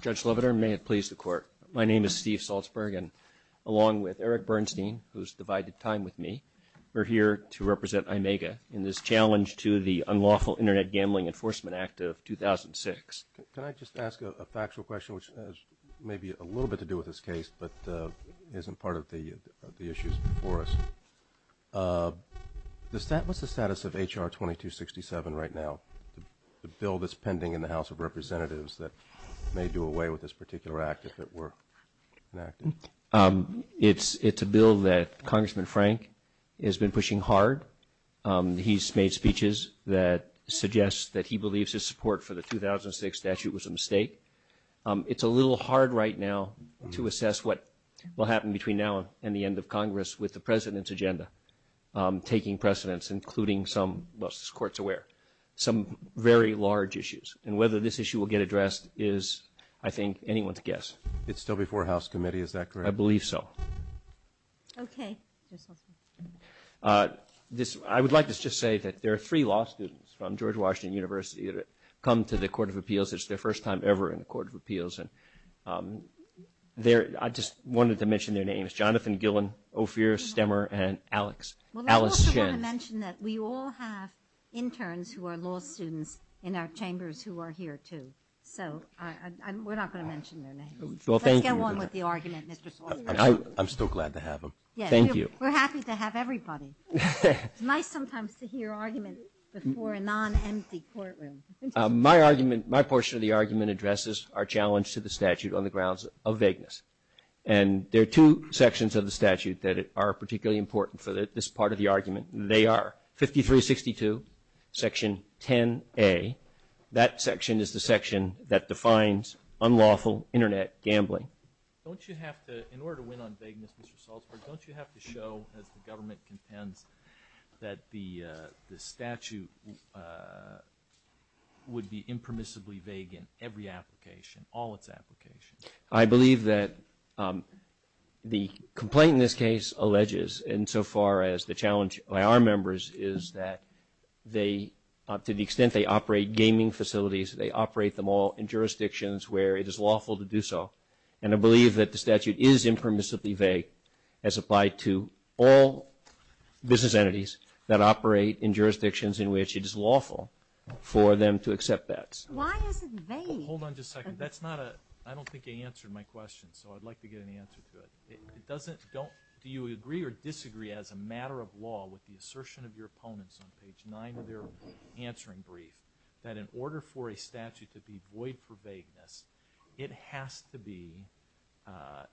Judge Leviter, may it please the court. My name is Steve Salzberg and along with Eric Bernstein, who's divided time with me, we're here to represent IMEGA in this challenge to the Unlawful Internet Gambling Enforcement Act of 2006. Can I just ask a factual question which has maybe a little bit to do with this case but isn't part of the issues before us. What's the status of H.R. 2267 right now, the bill that's pending in the House of Representatives that may do away with this particular act if it were enacted? It's a bill that Congressman Frank has been pushing hard. He's made speeches that suggest that he believes his support for the 2006 statute was a mistake. It's a little hard right now to assess what will happen between now and the end of Congress with the President's agenda taking precedence, including some, most courts aware, some very large issues. And whether this issue will get addressed is, I think, anyone's guess. It's still before House Committee, is that correct? I believe so. Okay. I would like to just say that there are three law students from George Washington University that have come to the Court of Appeals. It's their first time ever in the Court of Appeals. I just wanted to mention their names, Jonathan Gillen, Ophir Stemmer, and Alex, Alice Shen. Well, I also want to mention that we all have interns who are law students in our chambers who are here, too. So we're not going to mention their names. Well, thank you. Let's go on with the argument, Mr. Saulson. I'm still glad to have them. Yes. Thank you. We're happy to have everybody. It's nice sometimes to hear arguments before a non-empty courtroom. My argument, my portion of the argument addresses our challenge to the statute on the grounds of vagueness. And there are two sections of the statute that are particularly important for this part of the argument. They are 5362, Section 10A. That section is the section that defines unlawful Internet gambling. Don't you have to, in order to win on vagueness, Mr. Salzberg, don't you have to show, as the defense, that the statute would be impermissibly vague in every application, all its applications? I believe that the complaint in this case alleges, insofar as the challenge by our members is that they, to the extent they operate gaming facilities, they operate them all in jurisdictions where it is lawful to do so. And I believe that the statute is impermissibly vague as applied to all business entities that operate in jurisdictions in which it is lawful for them to accept that. Why is it vague? Hold on just a second. That's not a, I don't think you answered my question, so I'd like to get an answer to it. It doesn't, don't, do you agree or disagree as a matter of law with the assertion of your opponents on page 9 of their answering brief, that in order for a statute to be void for vagueness, it has to be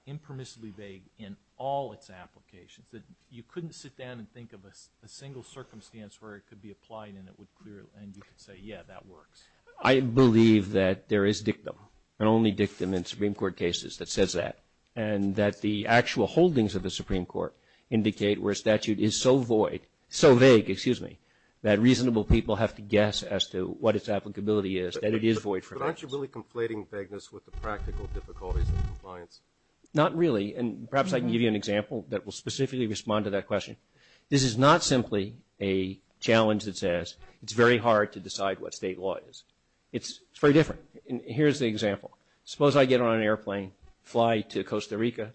impermissibly vague in all its applications? That you couldn't sit down and think of a single circumstance where it could be applied and it would clear, and you could say, yeah, that works. I believe that there is dictum, and only dictum in Supreme Court cases that says that. And that the actual holdings of the Supreme Court indicate where a statute is so void, so vague, excuse me, that reasonable people have to guess as to what its applicability is, that it is void for vagueness. But aren't you really conflating vagueness with the practical difficulties of compliance? Not really, and perhaps I can give you an example that will specifically respond to that question. This is not simply a challenge that says it's very hard to decide what state law is. It's very different. And here's the example. Suppose I get on an airplane, fly to Costa Rica,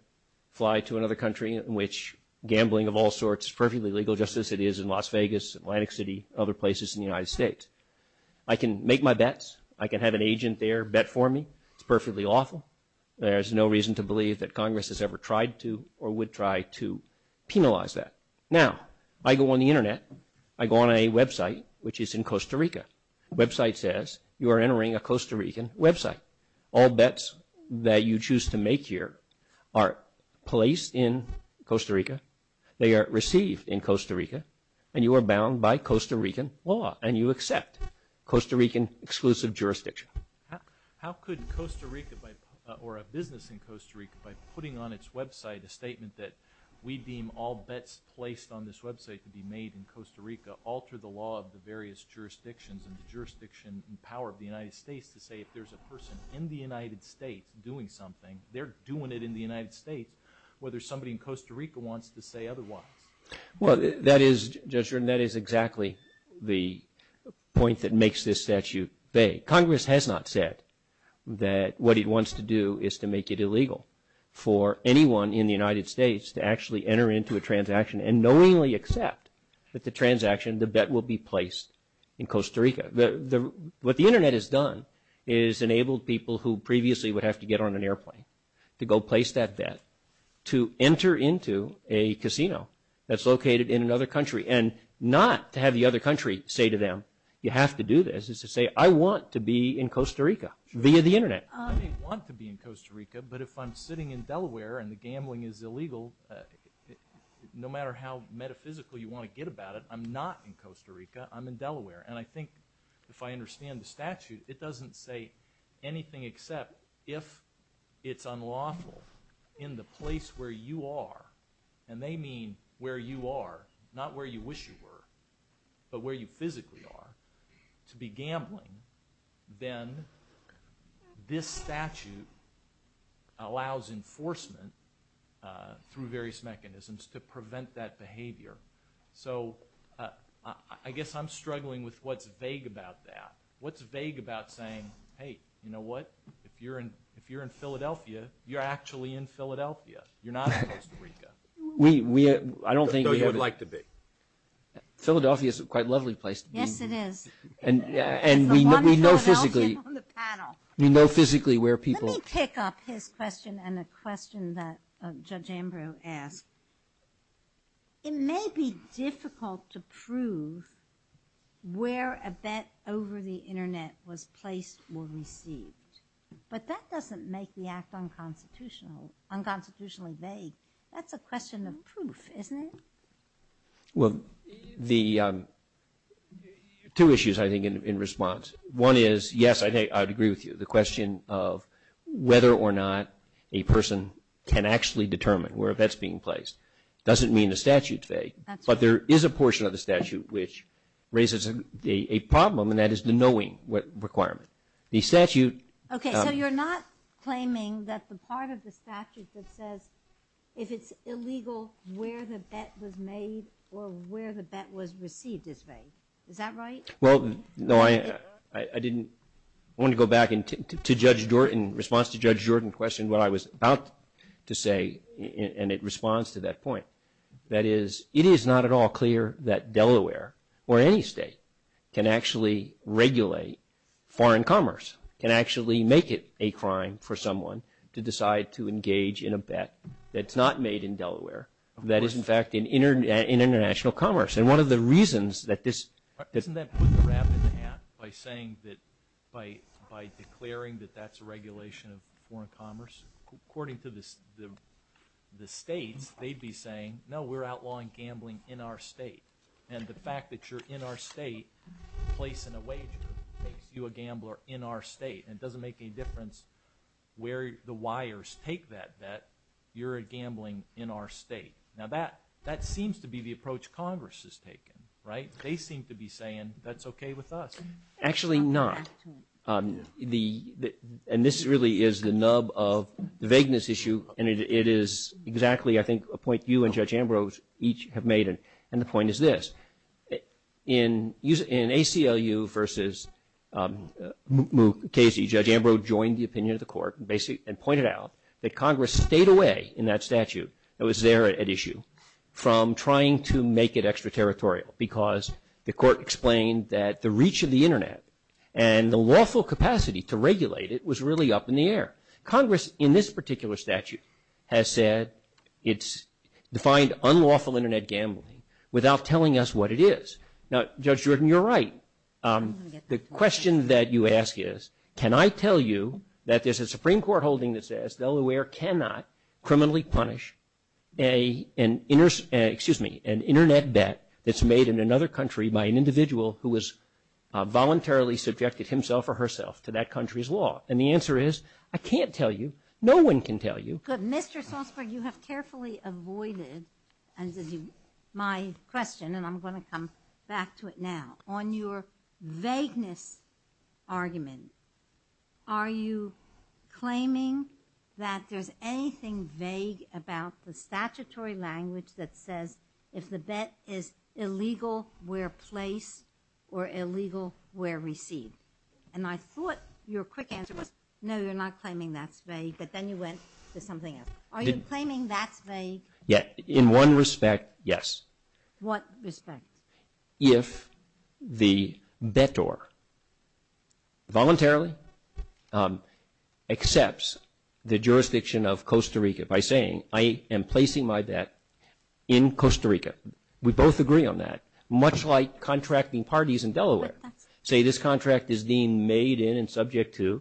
fly to another country in which gambling of all sorts is perfectly legal justice. It is in Las Vegas, Atlantic City, other places in the United States. I can make my bets. I can have an agent there bet for me. It's perfectly lawful. There's no reason to believe that Congress has ever tried to or would try to penalize that. Now, I go on the Internet. I go on a website, which is in Costa Rica. Website says you are entering a Costa Rican website. All bets that you choose to make here are placed in Costa Rica. They are received in Costa Rica, and you are bound by Costa Rican law, and you are in exclusive jurisdiction. How could Costa Rica, or a business in Costa Rica, by putting on its website a statement that we deem all bets placed on this website to be made in Costa Rica alter the law of the various jurisdictions and the jurisdiction and power of the United States to say if there's a person in the United States doing something, they're doing it in the United States, whether somebody in Costa Rica wants to say otherwise? Well, that is, Judge Jordan, that is exactly the point that makes this statute vague. Congress has not said that what it wants to do is to make it illegal for anyone in the United States to actually enter into a transaction and knowingly accept that the transaction, the bet will be placed in Costa Rica. What the Internet has done is enabled people who previously would have to get on an airplane to go place that bet to enter into a casino that's located in another country, and not to have the other country say to them, you have to do this, is to say, I want to be in Costa Rica via the Internet. I may want to be in Costa Rica, but if I'm sitting in Delaware and the gambling is illegal, no matter how metaphysical you want to get about it, I'm not in Costa Rica, I'm in Delaware. And I think if I understand the statute, it doesn't say anything except if it's unlawful in the place where you are, and they mean where you are, not where you wish you were, but where you physically are, to be gambling, then this statute allows enforcement through various mechanisms to prevent that behavior. So I guess I'm struggling with what's vague about that. What's vague about saying, hey, you know what, if you're in Philadelphia, you're actually in Philadelphia, you're not in Costa Rica. We, we, I don't think we have it. Though you would like to be. Philadelphia is a quite lovely place to be. Yes, it is. And we know physically. There's a lot of Philadelphia on the panel. We know physically where people. Let me pick up his question and a question that Judge Ambrose asked. It may be difficult to prove where a bet over the Internet was placed or received. But that doesn't make the act unconstitutional, unconstitutionally vague. That's a question of proof, isn't it? Well, the, two issues I think in response. One is, yes, I'd agree with you. The question of whether or not a person can actually determine where a bet's being placed doesn't mean the statute's vague. But there is a portion of the statute which raises a problem, and that is the knowing requirement. The statute. Okay, so you're not claiming that the part of the statute that says if it's illegal where the bet was made or where the bet was received is vague. Is that right? Well, no, I, I didn't, I want to go back to Judge Jordan, in response to Judge Jordan questioned what I was about to say, and it responds to that point. That is, it is not at all clear that Delaware, or any state, can actually regulate foreign commerce, can actually make it a crime for someone to decide to engage in a bet that's not made in Delaware, that is in fact in international commerce. And one of the reasons that this- Well, doesn't that put the wrap in the hat by saying that, by, by declaring that that's a regulation of foreign commerce? According to the, the states, they'd be saying, no, we're outlawing gambling in our state. And the fact that you're in our state, placing a wager makes you a gambler in our state. And it doesn't make any difference where the wires take that bet, you're gambling in our state. Now that, that seems to be the approach Congress has taken, right? They seem to be saying, that's okay with us. Actually not. The, the, and this really is the nub of the vagueness issue, and it, it is exactly, I think, a point you and Judge Ambrose each have made, and the point is this. In use, in ACLU versus Mukasey, Judge Ambrose joined the opinion of the court, basically, and pointed out that Congress stayed away in that statute that was there at issue from trying to make it extraterritorial, because the court explained that the reach of the Internet and the lawful capacity to regulate it was really up in the air. Congress, in this particular statute, has said it's defined unlawful Internet gambling without telling us what it is. Now, Judge Jordan, you're right. The question that you ask is, can I tell you that there's a Supreme Court holding that says Delaware cannot criminally punish a, an, excuse me, an Internet bet that's made in another country by an individual who has voluntarily subjected himself or herself to that country's law? And the answer is, I can't tell you. No one can tell you. Good. Mr. Salzberg, you have carefully avoided, as you, my question, and I'm going to come back to it now. On your vagueness argument, are you claiming that there's anything vague about the statutory language that says if the bet is illegal, where placed, or illegal, where received? And I thought your quick answer was, no, you're not claiming that's vague, but then you went to something else. Are you claiming that's vague? Yeah. In one respect, yes. What respect? If the bettor voluntarily accepts the jurisdiction of Costa Rica by saying, I am placing my bet in Costa Rica. We both agree on that. Much like contracting parties in Delaware say this contract is being made in and subject to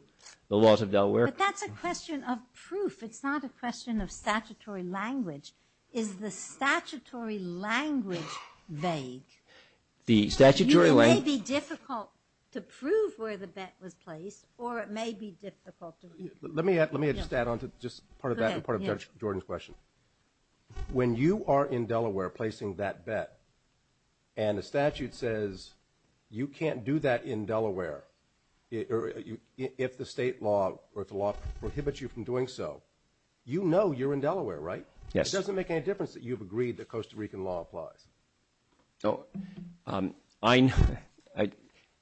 the laws of Delaware. But that's a question of proof. It's not a question of statutory language. Is the statutory language vague? The statutory language... It may be difficult to prove where the bet was placed, or it may be difficult to... Let me add, let me just add on to just part of that and part of Judge Jordan's question. When you are in Delaware placing that bet, and the statute says you can't do that in doing so, you know you're in Delaware, right? Yes. It doesn't make any difference that you've agreed that Costa Rican law applies.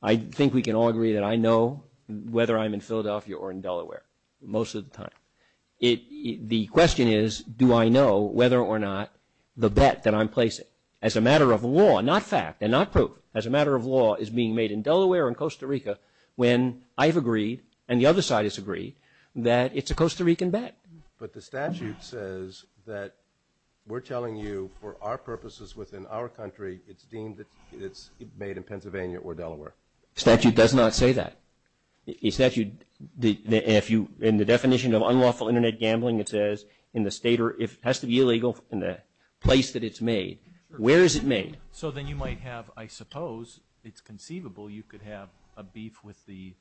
I think we can all agree that I know whether I'm in Philadelphia or in Delaware most of the time. The question is, do I know whether or not the bet that I'm placing, as a matter of law, not fact and not proof, as a matter of law, is being made in Costa Rican bet. But the statute says that we're telling you for our purposes within our country, it's deemed that it's made in Pennsylvania or Delaware. Statute does not say that. In the definition of unlawful internet gambling, it says in the state or if it has to be illegal in the place that it's made. Where is it made? So then you might have, I suppose, it's conceivable you could have a beef with the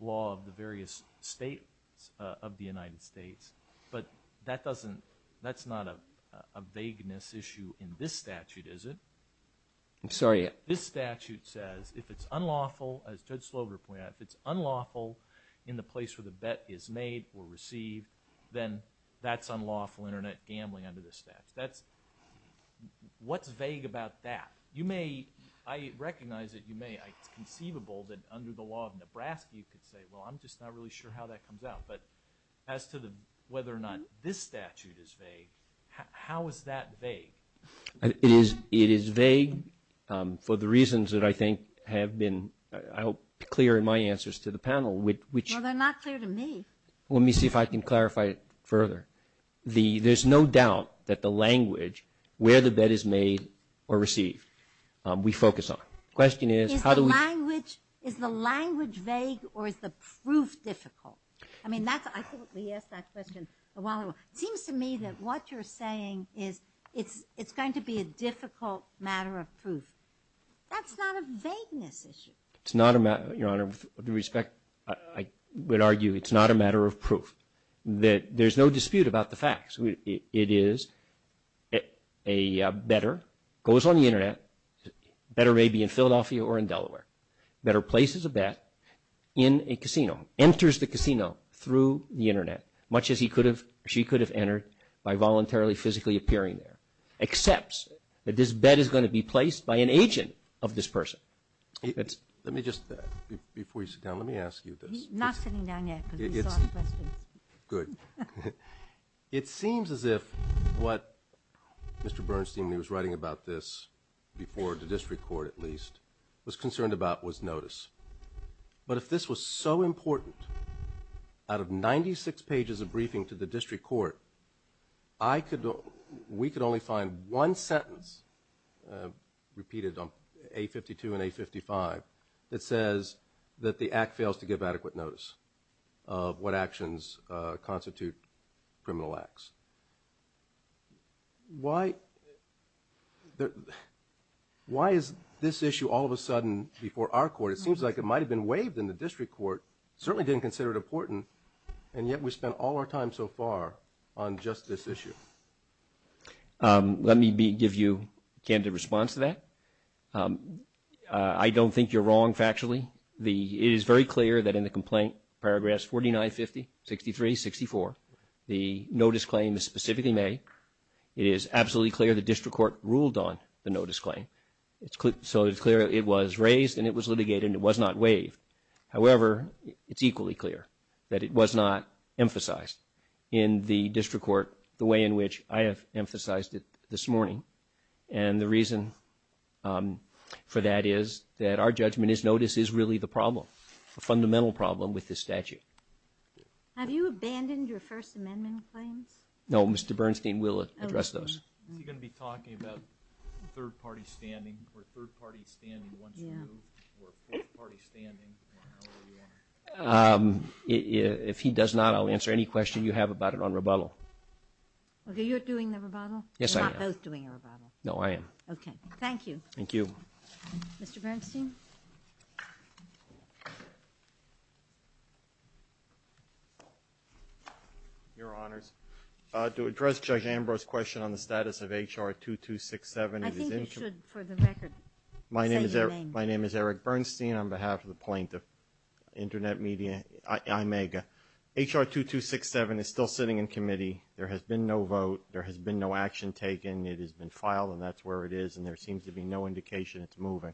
law of the various states of the United States, but that doesn't, that's not a vagueness issue in this statute, is it? I'm sorry? This statute says if it's unlawful, as Judge Slover pointed out, if it's unlawful in the place where the bet is made or received, then that's unlawful internet gambling under the statute. That's, what's vague about that? You may, I recognize that you may, it's conceivable that under the law of Nebraska you could say, well I'm just not really sure how that comes out. But as to the, whether or not this statute is vague, how is that vague? It is, it is vague for the reasons that I think have been, I hope, clear in my answers to the panel. Well they're not clear to me. Let me see if I can clarify it we focus on. The question is, how do we... Is the language vague or is the proof difficult? I mean that's, I think we asked that question a while ago. It seems to me that what you're saying is it's going to be a difficult matter of proof. That's not a vagueness issue. It's not a matter, Your Honor, with respect, I would argue it's not a matter of proof. There's no dispute about the internet, better may be in Philadelphia or in Delaware, better places a bet in a casino, enters the casino through the internet, much as he could have, she could have entered by voluntarily physically appearing there. Accepts that this bet is going to be placed by an agent of this person. Let me just, before you sit down, let me ask you this. Good. It seems as if what Mr. Bernstein, who was writing about this before the district court at least, was concerned about was notice. But if this was so important, out of 96 pages of briefing to the district court, I could, we could only find one sentence, repeated on A52 and A55, that says that the act fails to Why is this issue all of a sudden before our court? It seems like it might have been waived in the district court, certainly didn't consider it important, and yet we spent all our time so far on just this issue. Let me give you a candid response to that. I don't think you're wrong factually. It is very clear that in the complaint, paragraphs 49, 50, 63, 64, the notice claim is It is absolutely clear the district court ruled on the notice claim. It's clear, so it's clear it was raised and it was litigated and it was not waived. However, it's equally clear that it was not emphasized in the district court the way in which I have emphasized it this morning. And the reason for that is that our judgment is notice is really the problem, a fundamental problem with this statute. Have you abandoned your First Amendment claims? No, Mr. Bernstein will address those. If he does not, I'll answer any question you have about it on rebuttal. Okay, you're doing Your Honors, to address Judge Ambrose's question on the status of HR 2267, I think you should, for the record, say your name. My name is Eric Bernstein on behalf of the plaintiff, Internet Media, IMAGA. HR 2267 is still sitting in committee. There has been no vote. There has been no action taken. It has been filed and that's where it is, and there seems to be no indication it's moving.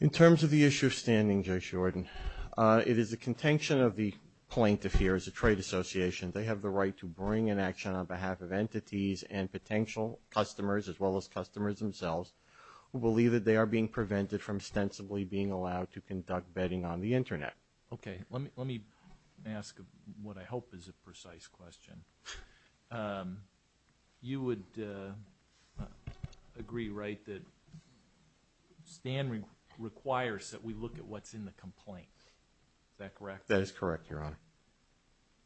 In terms of the issue of standing, Judge it is the contention of the plaintiff here, as a trade association, they have the right to bring in action on behalf of entities and potential customers, as well as customers themselves, who believe that they are being prevented from ostensibly being allowed to conduct betting on the Internet. Okay, let me ask what I hope is a precise question. You would agree, right, that Stan requires that we look at what's in the complaint, is that correct? That is correct, Your Honor.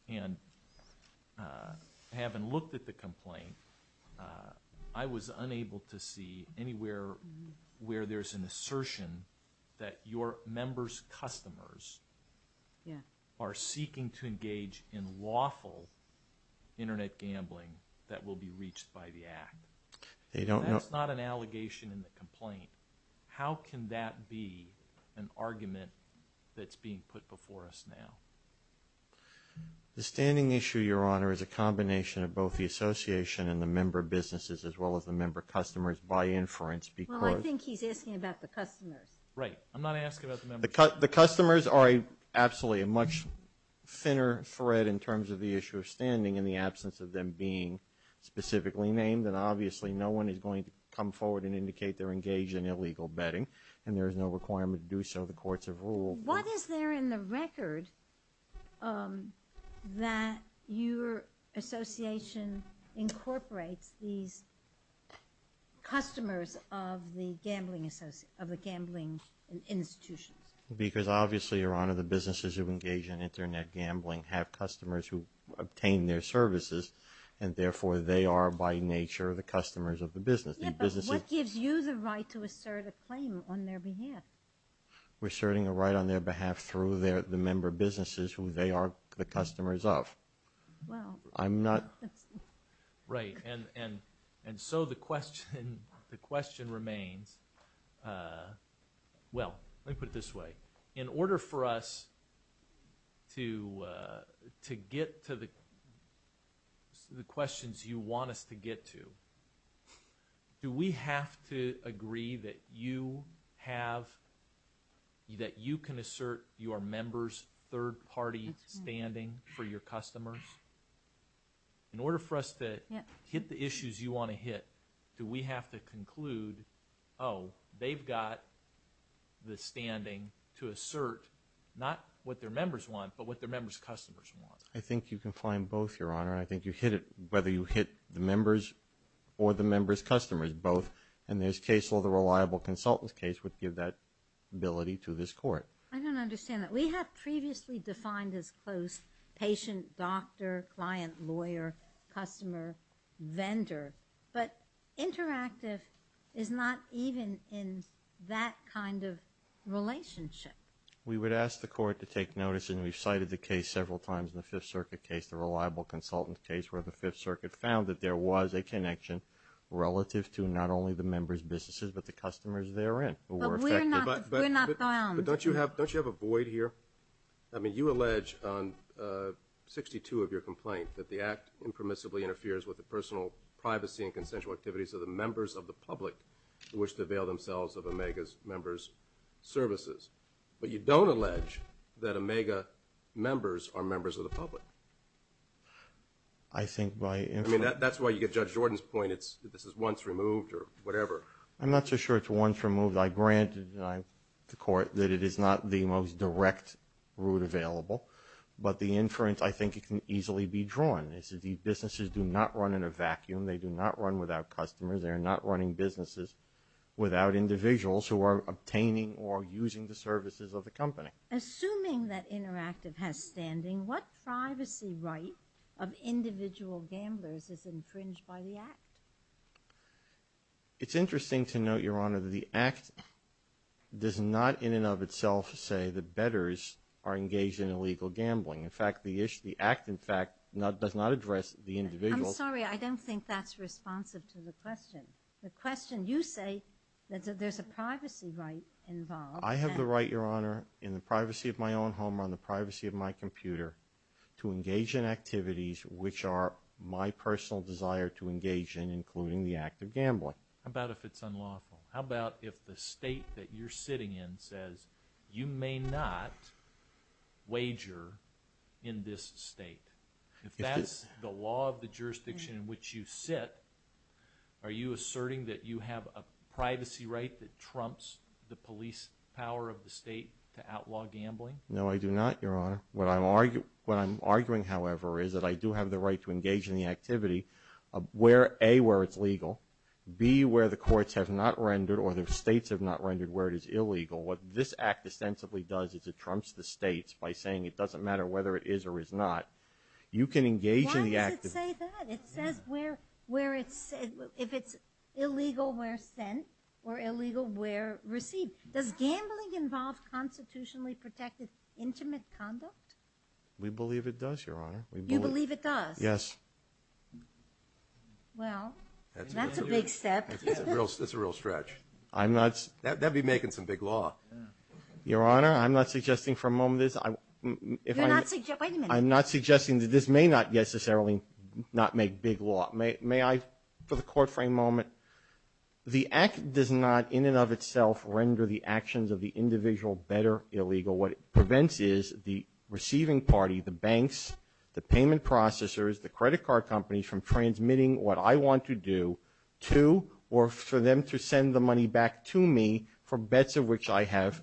And having looked at the complaint, I was unable to see anywhere where there's an assertion that your members' customers are seeking to engage in lawful Internet gambling that will be reached by the Act. That's not an allegation in the complaint. How can that be an argument that's being put before us now? The standing issue, Your Honor, is a combination of both the association and the member businesses, as well as the member customers, by inference. Well, I think he's asking about the customers. Right, I'm not asking about the members. The customers are absolutely a much thinner thread in terms of the issue of standing in the absence of them being specifically named, and obviously no one is going to come forward and indicate they're engaged in illegal betting, and there is no requirement to do so. The courts have ruled. What is there in the record that your association incorporates these customers of the gambling institutions? Because obviously, Your Honor, the businesses who engage in Internet gambling have customers who obtain their services, and therefore they are by nature the customers of the business. Yeah, but what gives you the right to assert a claim on their behalf? We're asserting a right on their behalf through the member businesses who they are the customers of. Well, I'm not... Right, and so the question remains. Well, let me put it this way. In order for us to get to the questions you want us to get to, do we have to agree that you can assert your members' third-party standing for your customers? Yes. In order for us to hit the issues you want to hit, do we have to conclude, oh, they've got the standing to assert not what their members want, but what their members' customers want? I think you can find both, Your Honor. I think you hit it whether you hit the members or the members' customers, both. In this case, all the reliable consultants' case would give that ability to this court. I don't understand that. We have previously defined as close patient, doctor, client, lawyer, customer, vendor, but interactive is not even in that kind of relationship. We would ask the court to take notice, and we've cited the case several times in the Fifth Circuit case, the reliable consultant case, where the Fifth Circuit found that there was a connection relative to not only the members' businesses, but the customers therein who were not. But don't you have a void here? I mean, you allege on 62 of your complaint that the Act impermissibly interferes with the personal privacy and consensual activities of the members of the public who wish to avail themselves of OMEGA's members' services, but you don't allege that OMEGA members are members of the public. I mean, that's why you get Judge Jordan's point, this is once removed or whatever. I'm not so sure it's once removed. I granted the court that it is not the most direct route available, but the inference I think can easily be drawn is that these businesses do not run in a vacuum. They do not run without customers. They are not running businesses without individuals who are obtaining or using the services of the company. Assuming that interactive has standing, what privacy right of individual gamblers is infringed by the Act? It's interesting to note, Your Honor, that the Act does not in and of itself say that bettors are engaged in illegal gambling. In fact, the Act, in fact, does not address the individual. I'm sorry, I don't think that's responsive to the question. The question, you say that there's a privacy right involved. I have the right, Your Honor, in the privacy of my own home, on the privacy of my computer, to engage in activities which are my personal desire to engage in, including the act of gambling. How about if it's unlawful? How about if the state that you're sitting in says you may not wager in this state? If that's the law of the jurisdiction in which you sit, are you asserting that you have a privacy right that trumps the police power of the state to outlaw gambling? No, I do not, Your Honor. What I'm arguing, however, is that I do have the right to engage in the activity where, A, where it's legal, B, where the courts have not rendered or the states have not rendered where it is illegal. What this Act ostensibly does is it trumps the states by saying it doesn't matter whether it is or is not. You can engage in the act. Why does it say that? It says where it's, if it's illegal where sent or illegal where received. Does gambling involve constitutionally protected intimate conduct? We believe it does, Your Honor. You believe it does? Yes. Well, that's a big step. That's a real stretch. I'm not. That'd be making some big law. Your Honor, I'm not suggesting for a moment. I'm not suggesting that this may not necessarily not make big law. May I, for the court frame moment, the Act does not in and of itself render the actions of the individual better illegal. What it prevents is the receiving party, the banks, the payment processors, the credit card companies from transmitting what I want to do to or for them to send the money back to me for bets of which I have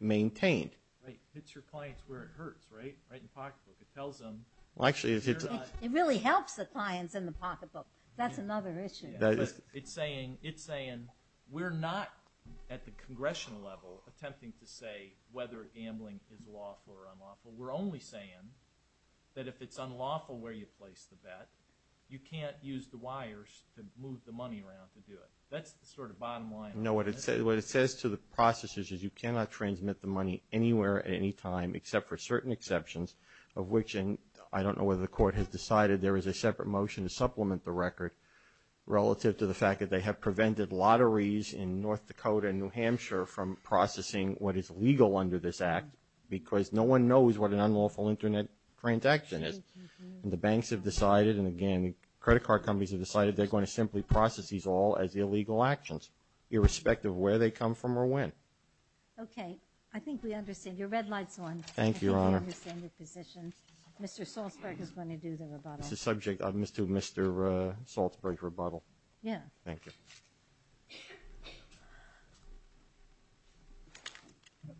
maintained. Right. Hits your clients where it hurts, right? Right in the pocketbook. It tells them. Well, actually, if it's. It really helps the clients in the pocketbook. That's another issue. It's saying, it's saying we're not at the congressional level attempting to say whether gambling is lawful or unlawful. We're only saying that if it's unlawful where you place the bet, you can't use the wires to move the money around to do it. That's the sort of bottom line. No, what it says, what it says to the processors is you cannot transmit the money anywhere at any time except for certain exceptions of which I don't know whether the court has decided there is a separate motion to supplement the record relative to the fact that they have prevented lotteries in North Dakota and New Hampshire from processing what is legal under this act because no one knows what an unlawful internet transaction is and the banks have decided and again credit card companies have decided they're going to simply process these all as illegal actions irrespective of where they come from or when. Okay, I think we understand. Your red light's on. Thank you, Your Honor. Mr. Salzberg is going to do the rebuttal. It's a subject of Mr. Salzberg's opinion.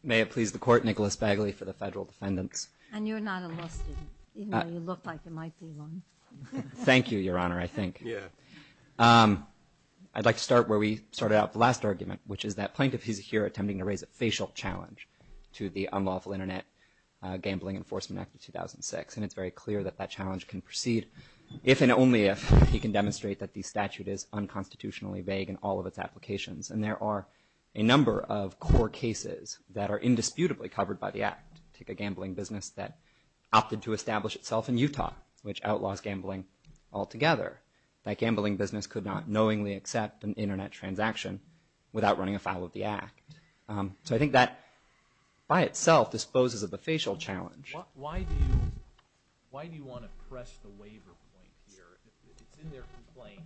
May it please the court, Nicholas Begley for the federal defendants. And you're not a law student even though you look like you might be one. Thank you, Your Honor, I think. Yeah. I'd like to start where we started out the last argument which is that plaintiff is here attempting to raise a facial challenge to the Unlawful Internet Gambling Enforcement Act of 2006 and it's very clear that that challenge can proceed if and only if he can demonstrate that the statute is unconstitutionally vague in all of its applications and there are a number of core cases that are indisputably covered by the act. Take a gambling business that opted to establish itself in Utah which outlaws gambling altogether. That gambling business could not knowingly accept an internet transaction without running a file of the act. So I think that by itself disposes of the challenge. Why do you want to press the waiver point here? It's in their complaint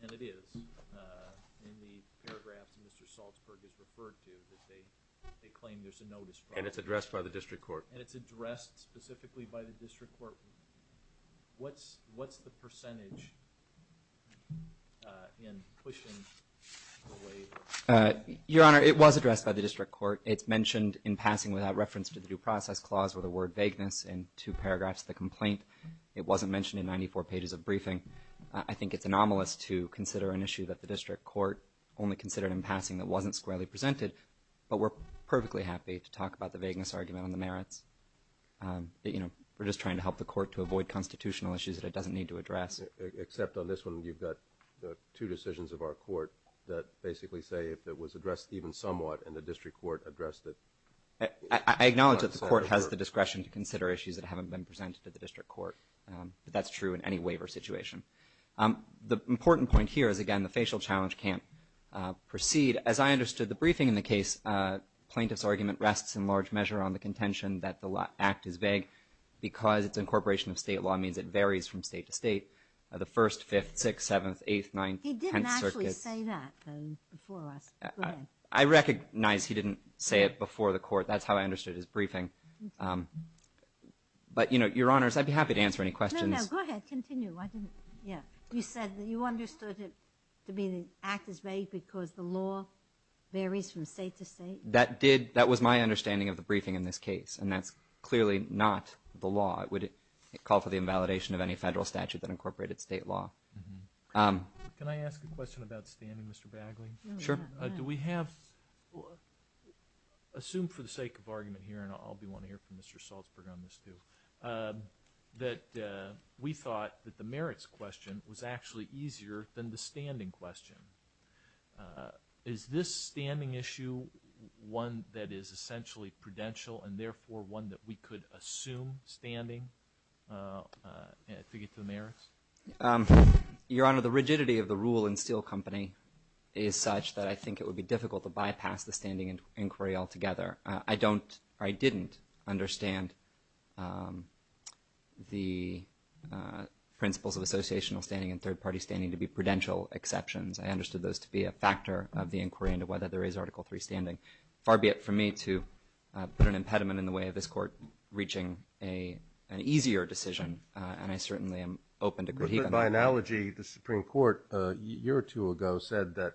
and it is in the paragraphs Mr. Salzberg has referred to that they claim there's a notice. And it's addressed by the district court. And it's addressed specifically by the district court. What's the percentage in pushing the waiver? Your Honor, it was addressed by the district court. It's with a word vagueness in two paragraphs of the complaint. It wasn't mentioned in 94 pages of briefing. I think it's anomalous to consider an issue that the district court only considered in passing that wasn't squarely presented. But we're perfectly happy to talk about the vagueness argument on the merits. You know, we're just trying to help the court to avoid constitutional issues that it doesn't need to address. Except on this one you've got the two decisions of our court that basically say if it was addressed even somewhat and the discretion to consider issues that haven't been presented to the district court. But that's true in any waiver situation. The important point here is again the facial challenge can't proceed. As I understood the briefing in the case, plaintiff's argument rests in large measure on the contention that the act is vague because it's incorporation of state law means it varies from state to state. The first, fifth, sixth, seventh, eighth, ninth, tenth circuit. He didn't actually say that before us. Go ahead. I recognize he didn't say it before the court. That's how I understood his argument. But you know, your honors, I'd be happy to answer any questions. No, no. Go ahead. Continue. I didn't. Yeah. You said that you understood it to be the act is vague because the law varies from state to state. That did. That was my understanding of the briefing in this case. And that's clearly not the law. It would call for the invalidation of any federal statute that incorporated state law. Can I ask a question about standing, Mr. Bagley? Sure. Do we have a question? Assume for the sake of argument here, and I'll be wanting to hear from Mr. Salzberg on this too, that we thought that the merits question was actually easier than the standing question. Is this standing issue one that is essentially prudential and therefore one that we could assume standing to get to the merits? Your honor, the rigidity of the rule in Steel Company is such that I think it would be difficult to bypass the standing inquiry altogether. I don't, or I didn't understand the principles of associational standing and third-party standing to be prudential exceptions. I understood those to be a factor of the inquiry into whether there is Article III standing. Far be it for me to put an impediment in the way of this court reaching an easier decision, and I certainly am open to critiquing that. But by analogy, the Supreme Court a year or two ago said that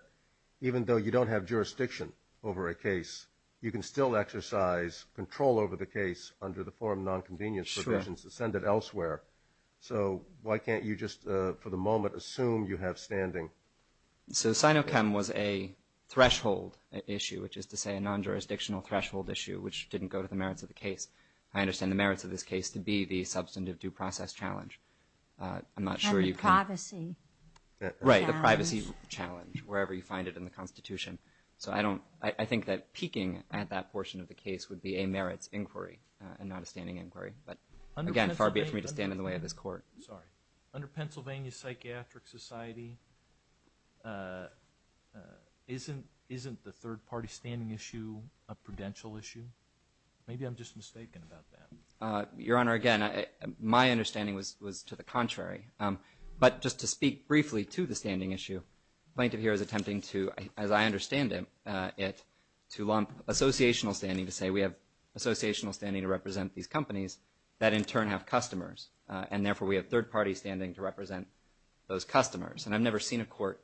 even though you don't have jurisdiction over a case, you can still exercise control over the case under the form of non-convenience provisions to send it elsewhere. So why can't you just for the moment assume you have standing? So SINOCHEM was a threshold issue, which is to say a non-jurisdictional threshold issue, which didn't go to the merits of the case. I understand the merits of this case to be the substantive due process challenge. I'm not sure you can... And the privacy challenge. Right, the privacy challenge, wherever you find it in the Constitution. So I don't, I think that peeking at that portion of the case would be a merits inquiry and not a standing inquiry. But again, far be it for me to stand in the way of this court. Sorry. Under Pennsylvania Psychiatric Society, isn't the third-party standing issue a prudential issue? Maybe I'm just mistaken about that. Your Honor, again, my understanding was to the contrary. But just to speak briefly to the standing issue, Plaintiff here is attempting to, as I understand it, to lump associational standing to say we have associational standing to represent these companies that in turn have customers, and therefore we have third-party standing to represent those customers. And I've never seen a court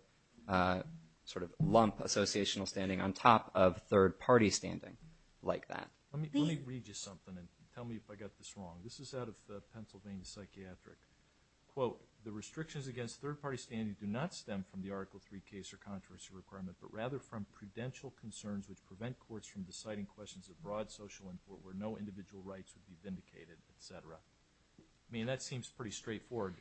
sort of lump associational standing on top of third-party standing like that. Let me read you something and tell me if I got this wrong. This is out of Pennsylvania Psychiatric. Quote, the restrictions against third-party standing do not stem from the Article 3 case or controversy requirement, but rather from prudential concerns which prevent courts from deciding questions of broad social import where no individual rights would be vindicated, et cetera. I mean, that seems pretty straightforward.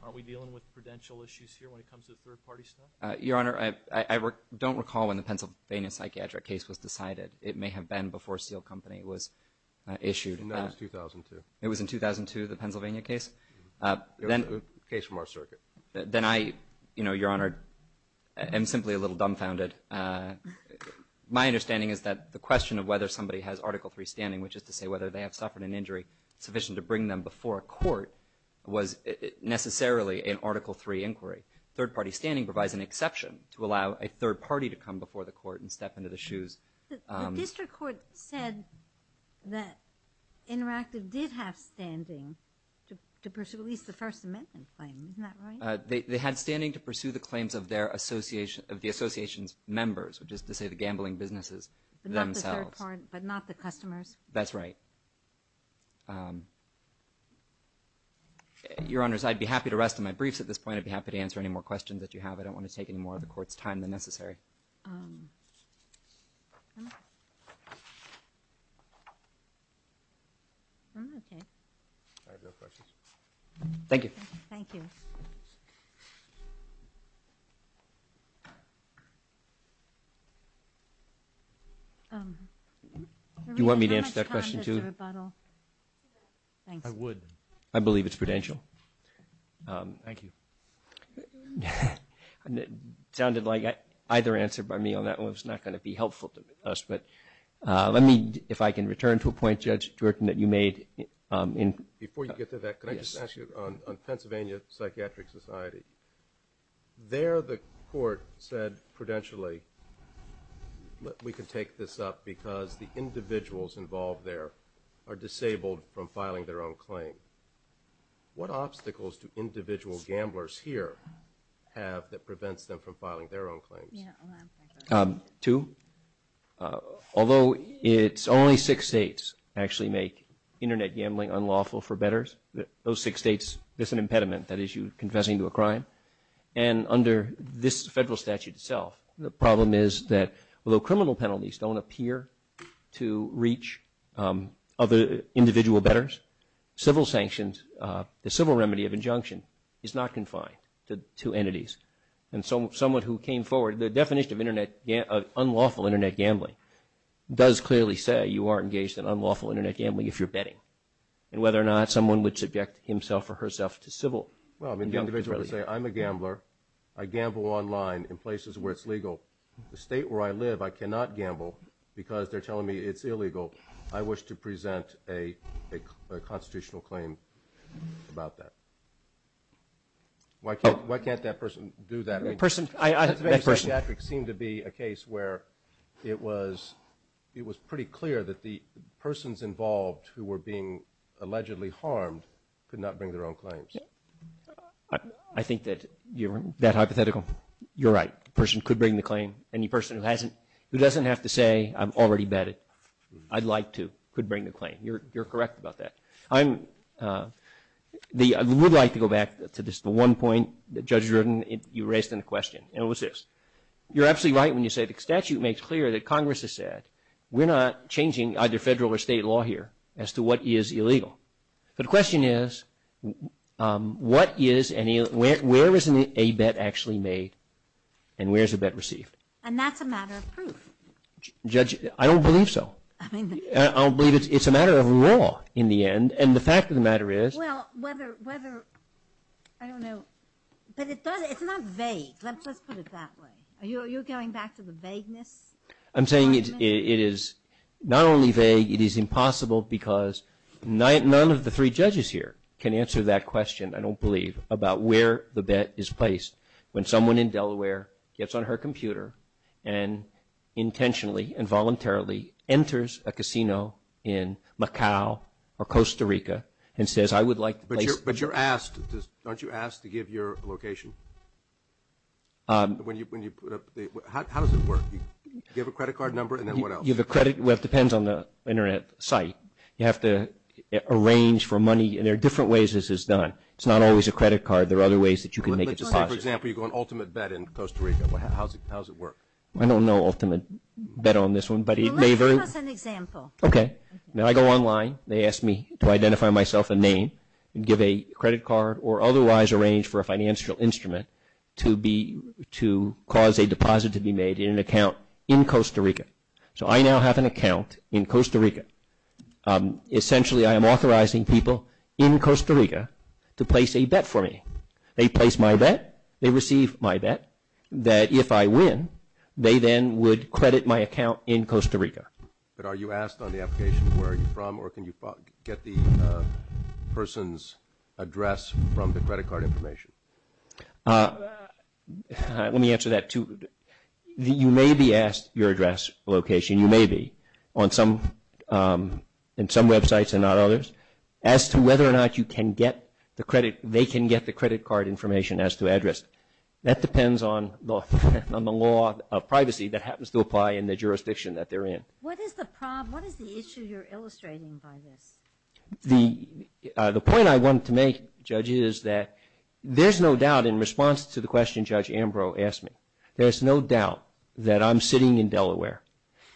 Aren't we dealing with prudential issues here when it comes to third-party stuff? Your Honor, I don't recall when the Pennsylvania psychiatric case was decided. It may have been before Steel Company was issued. No, it was 2002. It was in 2002, the Pennsylvania case? It was a case from our circuit. Then I, you know, Your Honor, am simply a little dumbfounded. My understanding is that the question of whether somebody has Article 3 standing, which is to say whether they have suffered an injury sufficient to bring them before a court, was necessarily an Article 3 inquiry. Third-party standing provides an exception to allow a third party to come before the court and step into the shoes. The district court said that Interactive did have standing to pursue at least the First Amendment claim. Isn't that right? They had standing to pursue the claims of their association, of the association's members, which is to say the gambling businesses themselves. But not the third party, but not the customers? That's right. Your Honors, I'd be happy to rest on my briefs at this point. I'd be happy to answer any more questions that you have. I don't want to take any more of the Court's time than necessary. I have no questions. Thank you. Thank you. Do you want me to answer that question, too? I would. I believe it's prudential. Thank you. It sounded like either answer by me on that one was not going to be helpful to us. But let me, if I can return to a point, Judge Dworkin, that you made. Before you get to that, can I just ask you, on Pennsylvania Psychiatric Society, there the Court said prudentially that we could take this up because the individuals involved there are disabled from filing their own claim. What obstacles do individual gamblers here have that prevents them from filing their own claims? Two. Although it's only six states actually make internet gambling unlawful for bettors, those six states, there's an impediment that is you confessing to a crime. And under this federal statute itself, the problem is that although criminal penalties don't appear to reach other individual bettors, civil sanctions, the civil remedy of injunction is not confined to entities. And someone who came forward, the definition of unlawful internet gambling does clearly say you are engaged in unlawful internet gambling if you're betting. And whether or not someone would subject himself or herself to civil— Well, I mean, the individual would say, I'm a gambler. I gamble online in places where it's legal. The state where I live, I cannot gamble because they're telling me it's illegal. I wish to present a constitutional claim about that. Why can't that person do that? The person— The psychiatric seemed to be a case where it was pretty clear that the persons involved who were being allegedly harmed could not bring their own claims. I think that you're— That hypothetical? You're right. The person could bring the claim. Any person who doesn't have to say, I've already bet it, I'd like to, could bring the claim. You're correct about that. I would like to go back to just the one point that Judge Rudin, you raised in the question. And it was this. You're absolutely right when you say the statute makes clear that Congress has said, we're not changing either federal or state law here as to what is illegal. But the question is, where is a bet actually made and where is a bet received? And that's a matter of proof. Judge, I don't believe so. I'll believe it's a matter of law in the end. And the fact of the matter is— Well, whether, I don't know. But it's not vague. Let's put it that way. Are you going back to the vagueness argument? I'm saying it is not only vague, it is impossible because none of the three judges here can answer that question, I don't believe, about where the bet is placed when someone in Delaware gets on her computer and intentionally and voluntarily enters a casino in Macau or Costa Rica and says, I would like to place— But you're asked, aren't you asked to give your location? How does it work? You have a credit card number, and then what else? You have a credit—well, it depends on the internet site. You have to arrange for money. And there are different ways this is done. It's not always a credit card. There are other ways that you can make a deposit. Let's just say, for example, you go on ultimate bet in Costa Rica. How does it work? I don't know ultimate bet on this one, but it may— Well, let's give us an example. OK. Now, I go online. They ask me to identify myself and name and give a credit card or otherwise arrange for instrument to be—to cause a deposit to be made in an account in Costa Rica. So I now have an account in Costa Rica. Essentially, I am authorizing people in Costa Rica to place a bet for me. They place my bet. They receive my bet that if I win, they then would credit my account in Costa Rica. But are you asked on the application, where are you from, or can you get the person's address from the credit card information? Let me answer that, too. You may be asked your address, location. You may be on some—on some websites and not others as to whether or not you can get the credit—they can get the credit card information as to address. That depends on the law of privacy that happens to apply in the jurisdiction that they're in. What is the problem? What is the issue you're illustrating by this? The—the point I want to make, Judge, is that there's no doubt in response to the question Judge Ambrose asked me, there's no doubt that I'm sitting in Delaware,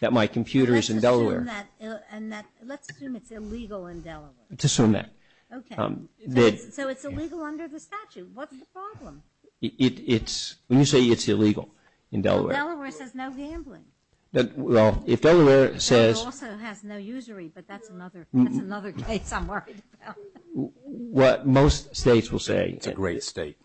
that my computer is in Delaware. Let's assume that—and that—let's assume it's illegal in Delaware. Let's assume that. Okay. So it's illegal under the statute. What's the problem? It's—when you say it's illegal in Delaware— Well, Delaware says no gambling. Well, if Delaware says— That's another case I'm worried about. What most states will say— It's a great state.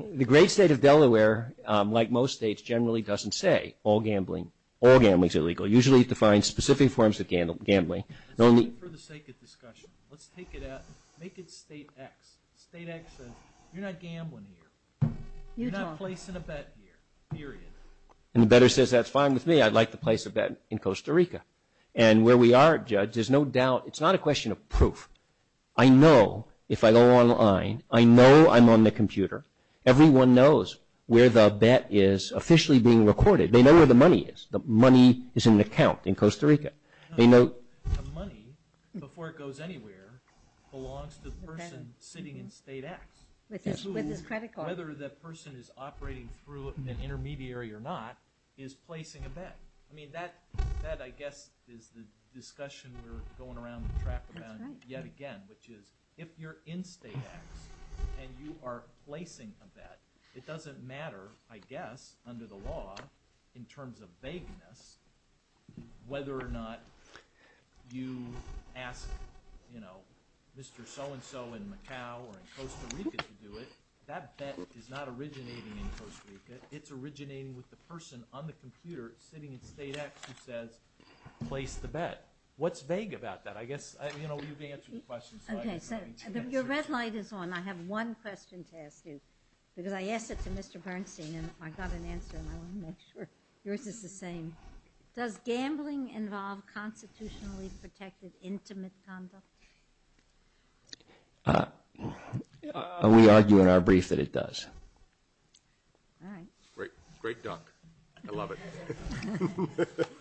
The great state of Delaware, like most states, generally doesn't say all gambling—all gambling is illegal. Usually it defines specific forms of gambling. It's only for the sake of discussion. Let's take it at—make it state X. State X says you're not gambling here. You're not placing a bet here. Period. And the better says that's fine with me. I'd like to place a bet in Costa Rica. And where we are, Judge, there's no doubt—it's not a question of proof. I know if I go online. I know I'm on the computer. Everyone knows where the bet is officially being recorded. They know where the money is. The money is in an account in Costa Rica. They know— The money, before it goes anywhere, belongs to the person sitting in state X. With his credit card. Whether that person is operating through an intermediary or not is placing a bet. I mean, that, I guess, is the discussion we're going around the track about yet again, which is if you're in state X and you are placing a bet, it doesn't matter, I guess, under the law, in terms of vagueness, whether or not you ask, you know, Mr. So-and-so in Macau or in Costa Rica to do it. That bet is not originating in Costa Rica. It's originating with the person on the computer sitting in state X who says, place the bet. What's vague about that? I guess, you know, you've answered the question, so I just wanted to answer it. Your red light is on. I have one question to ask you, because I asked it to Mr. Bernstein, and I got an answer, and I want to make sure yours is the same. Does gambling involve constitutionally protected intimate conduct? We argue in our brief that it does. All right. Great duck. I love it.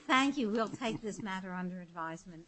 Thank you. We'll take this matter under advisement.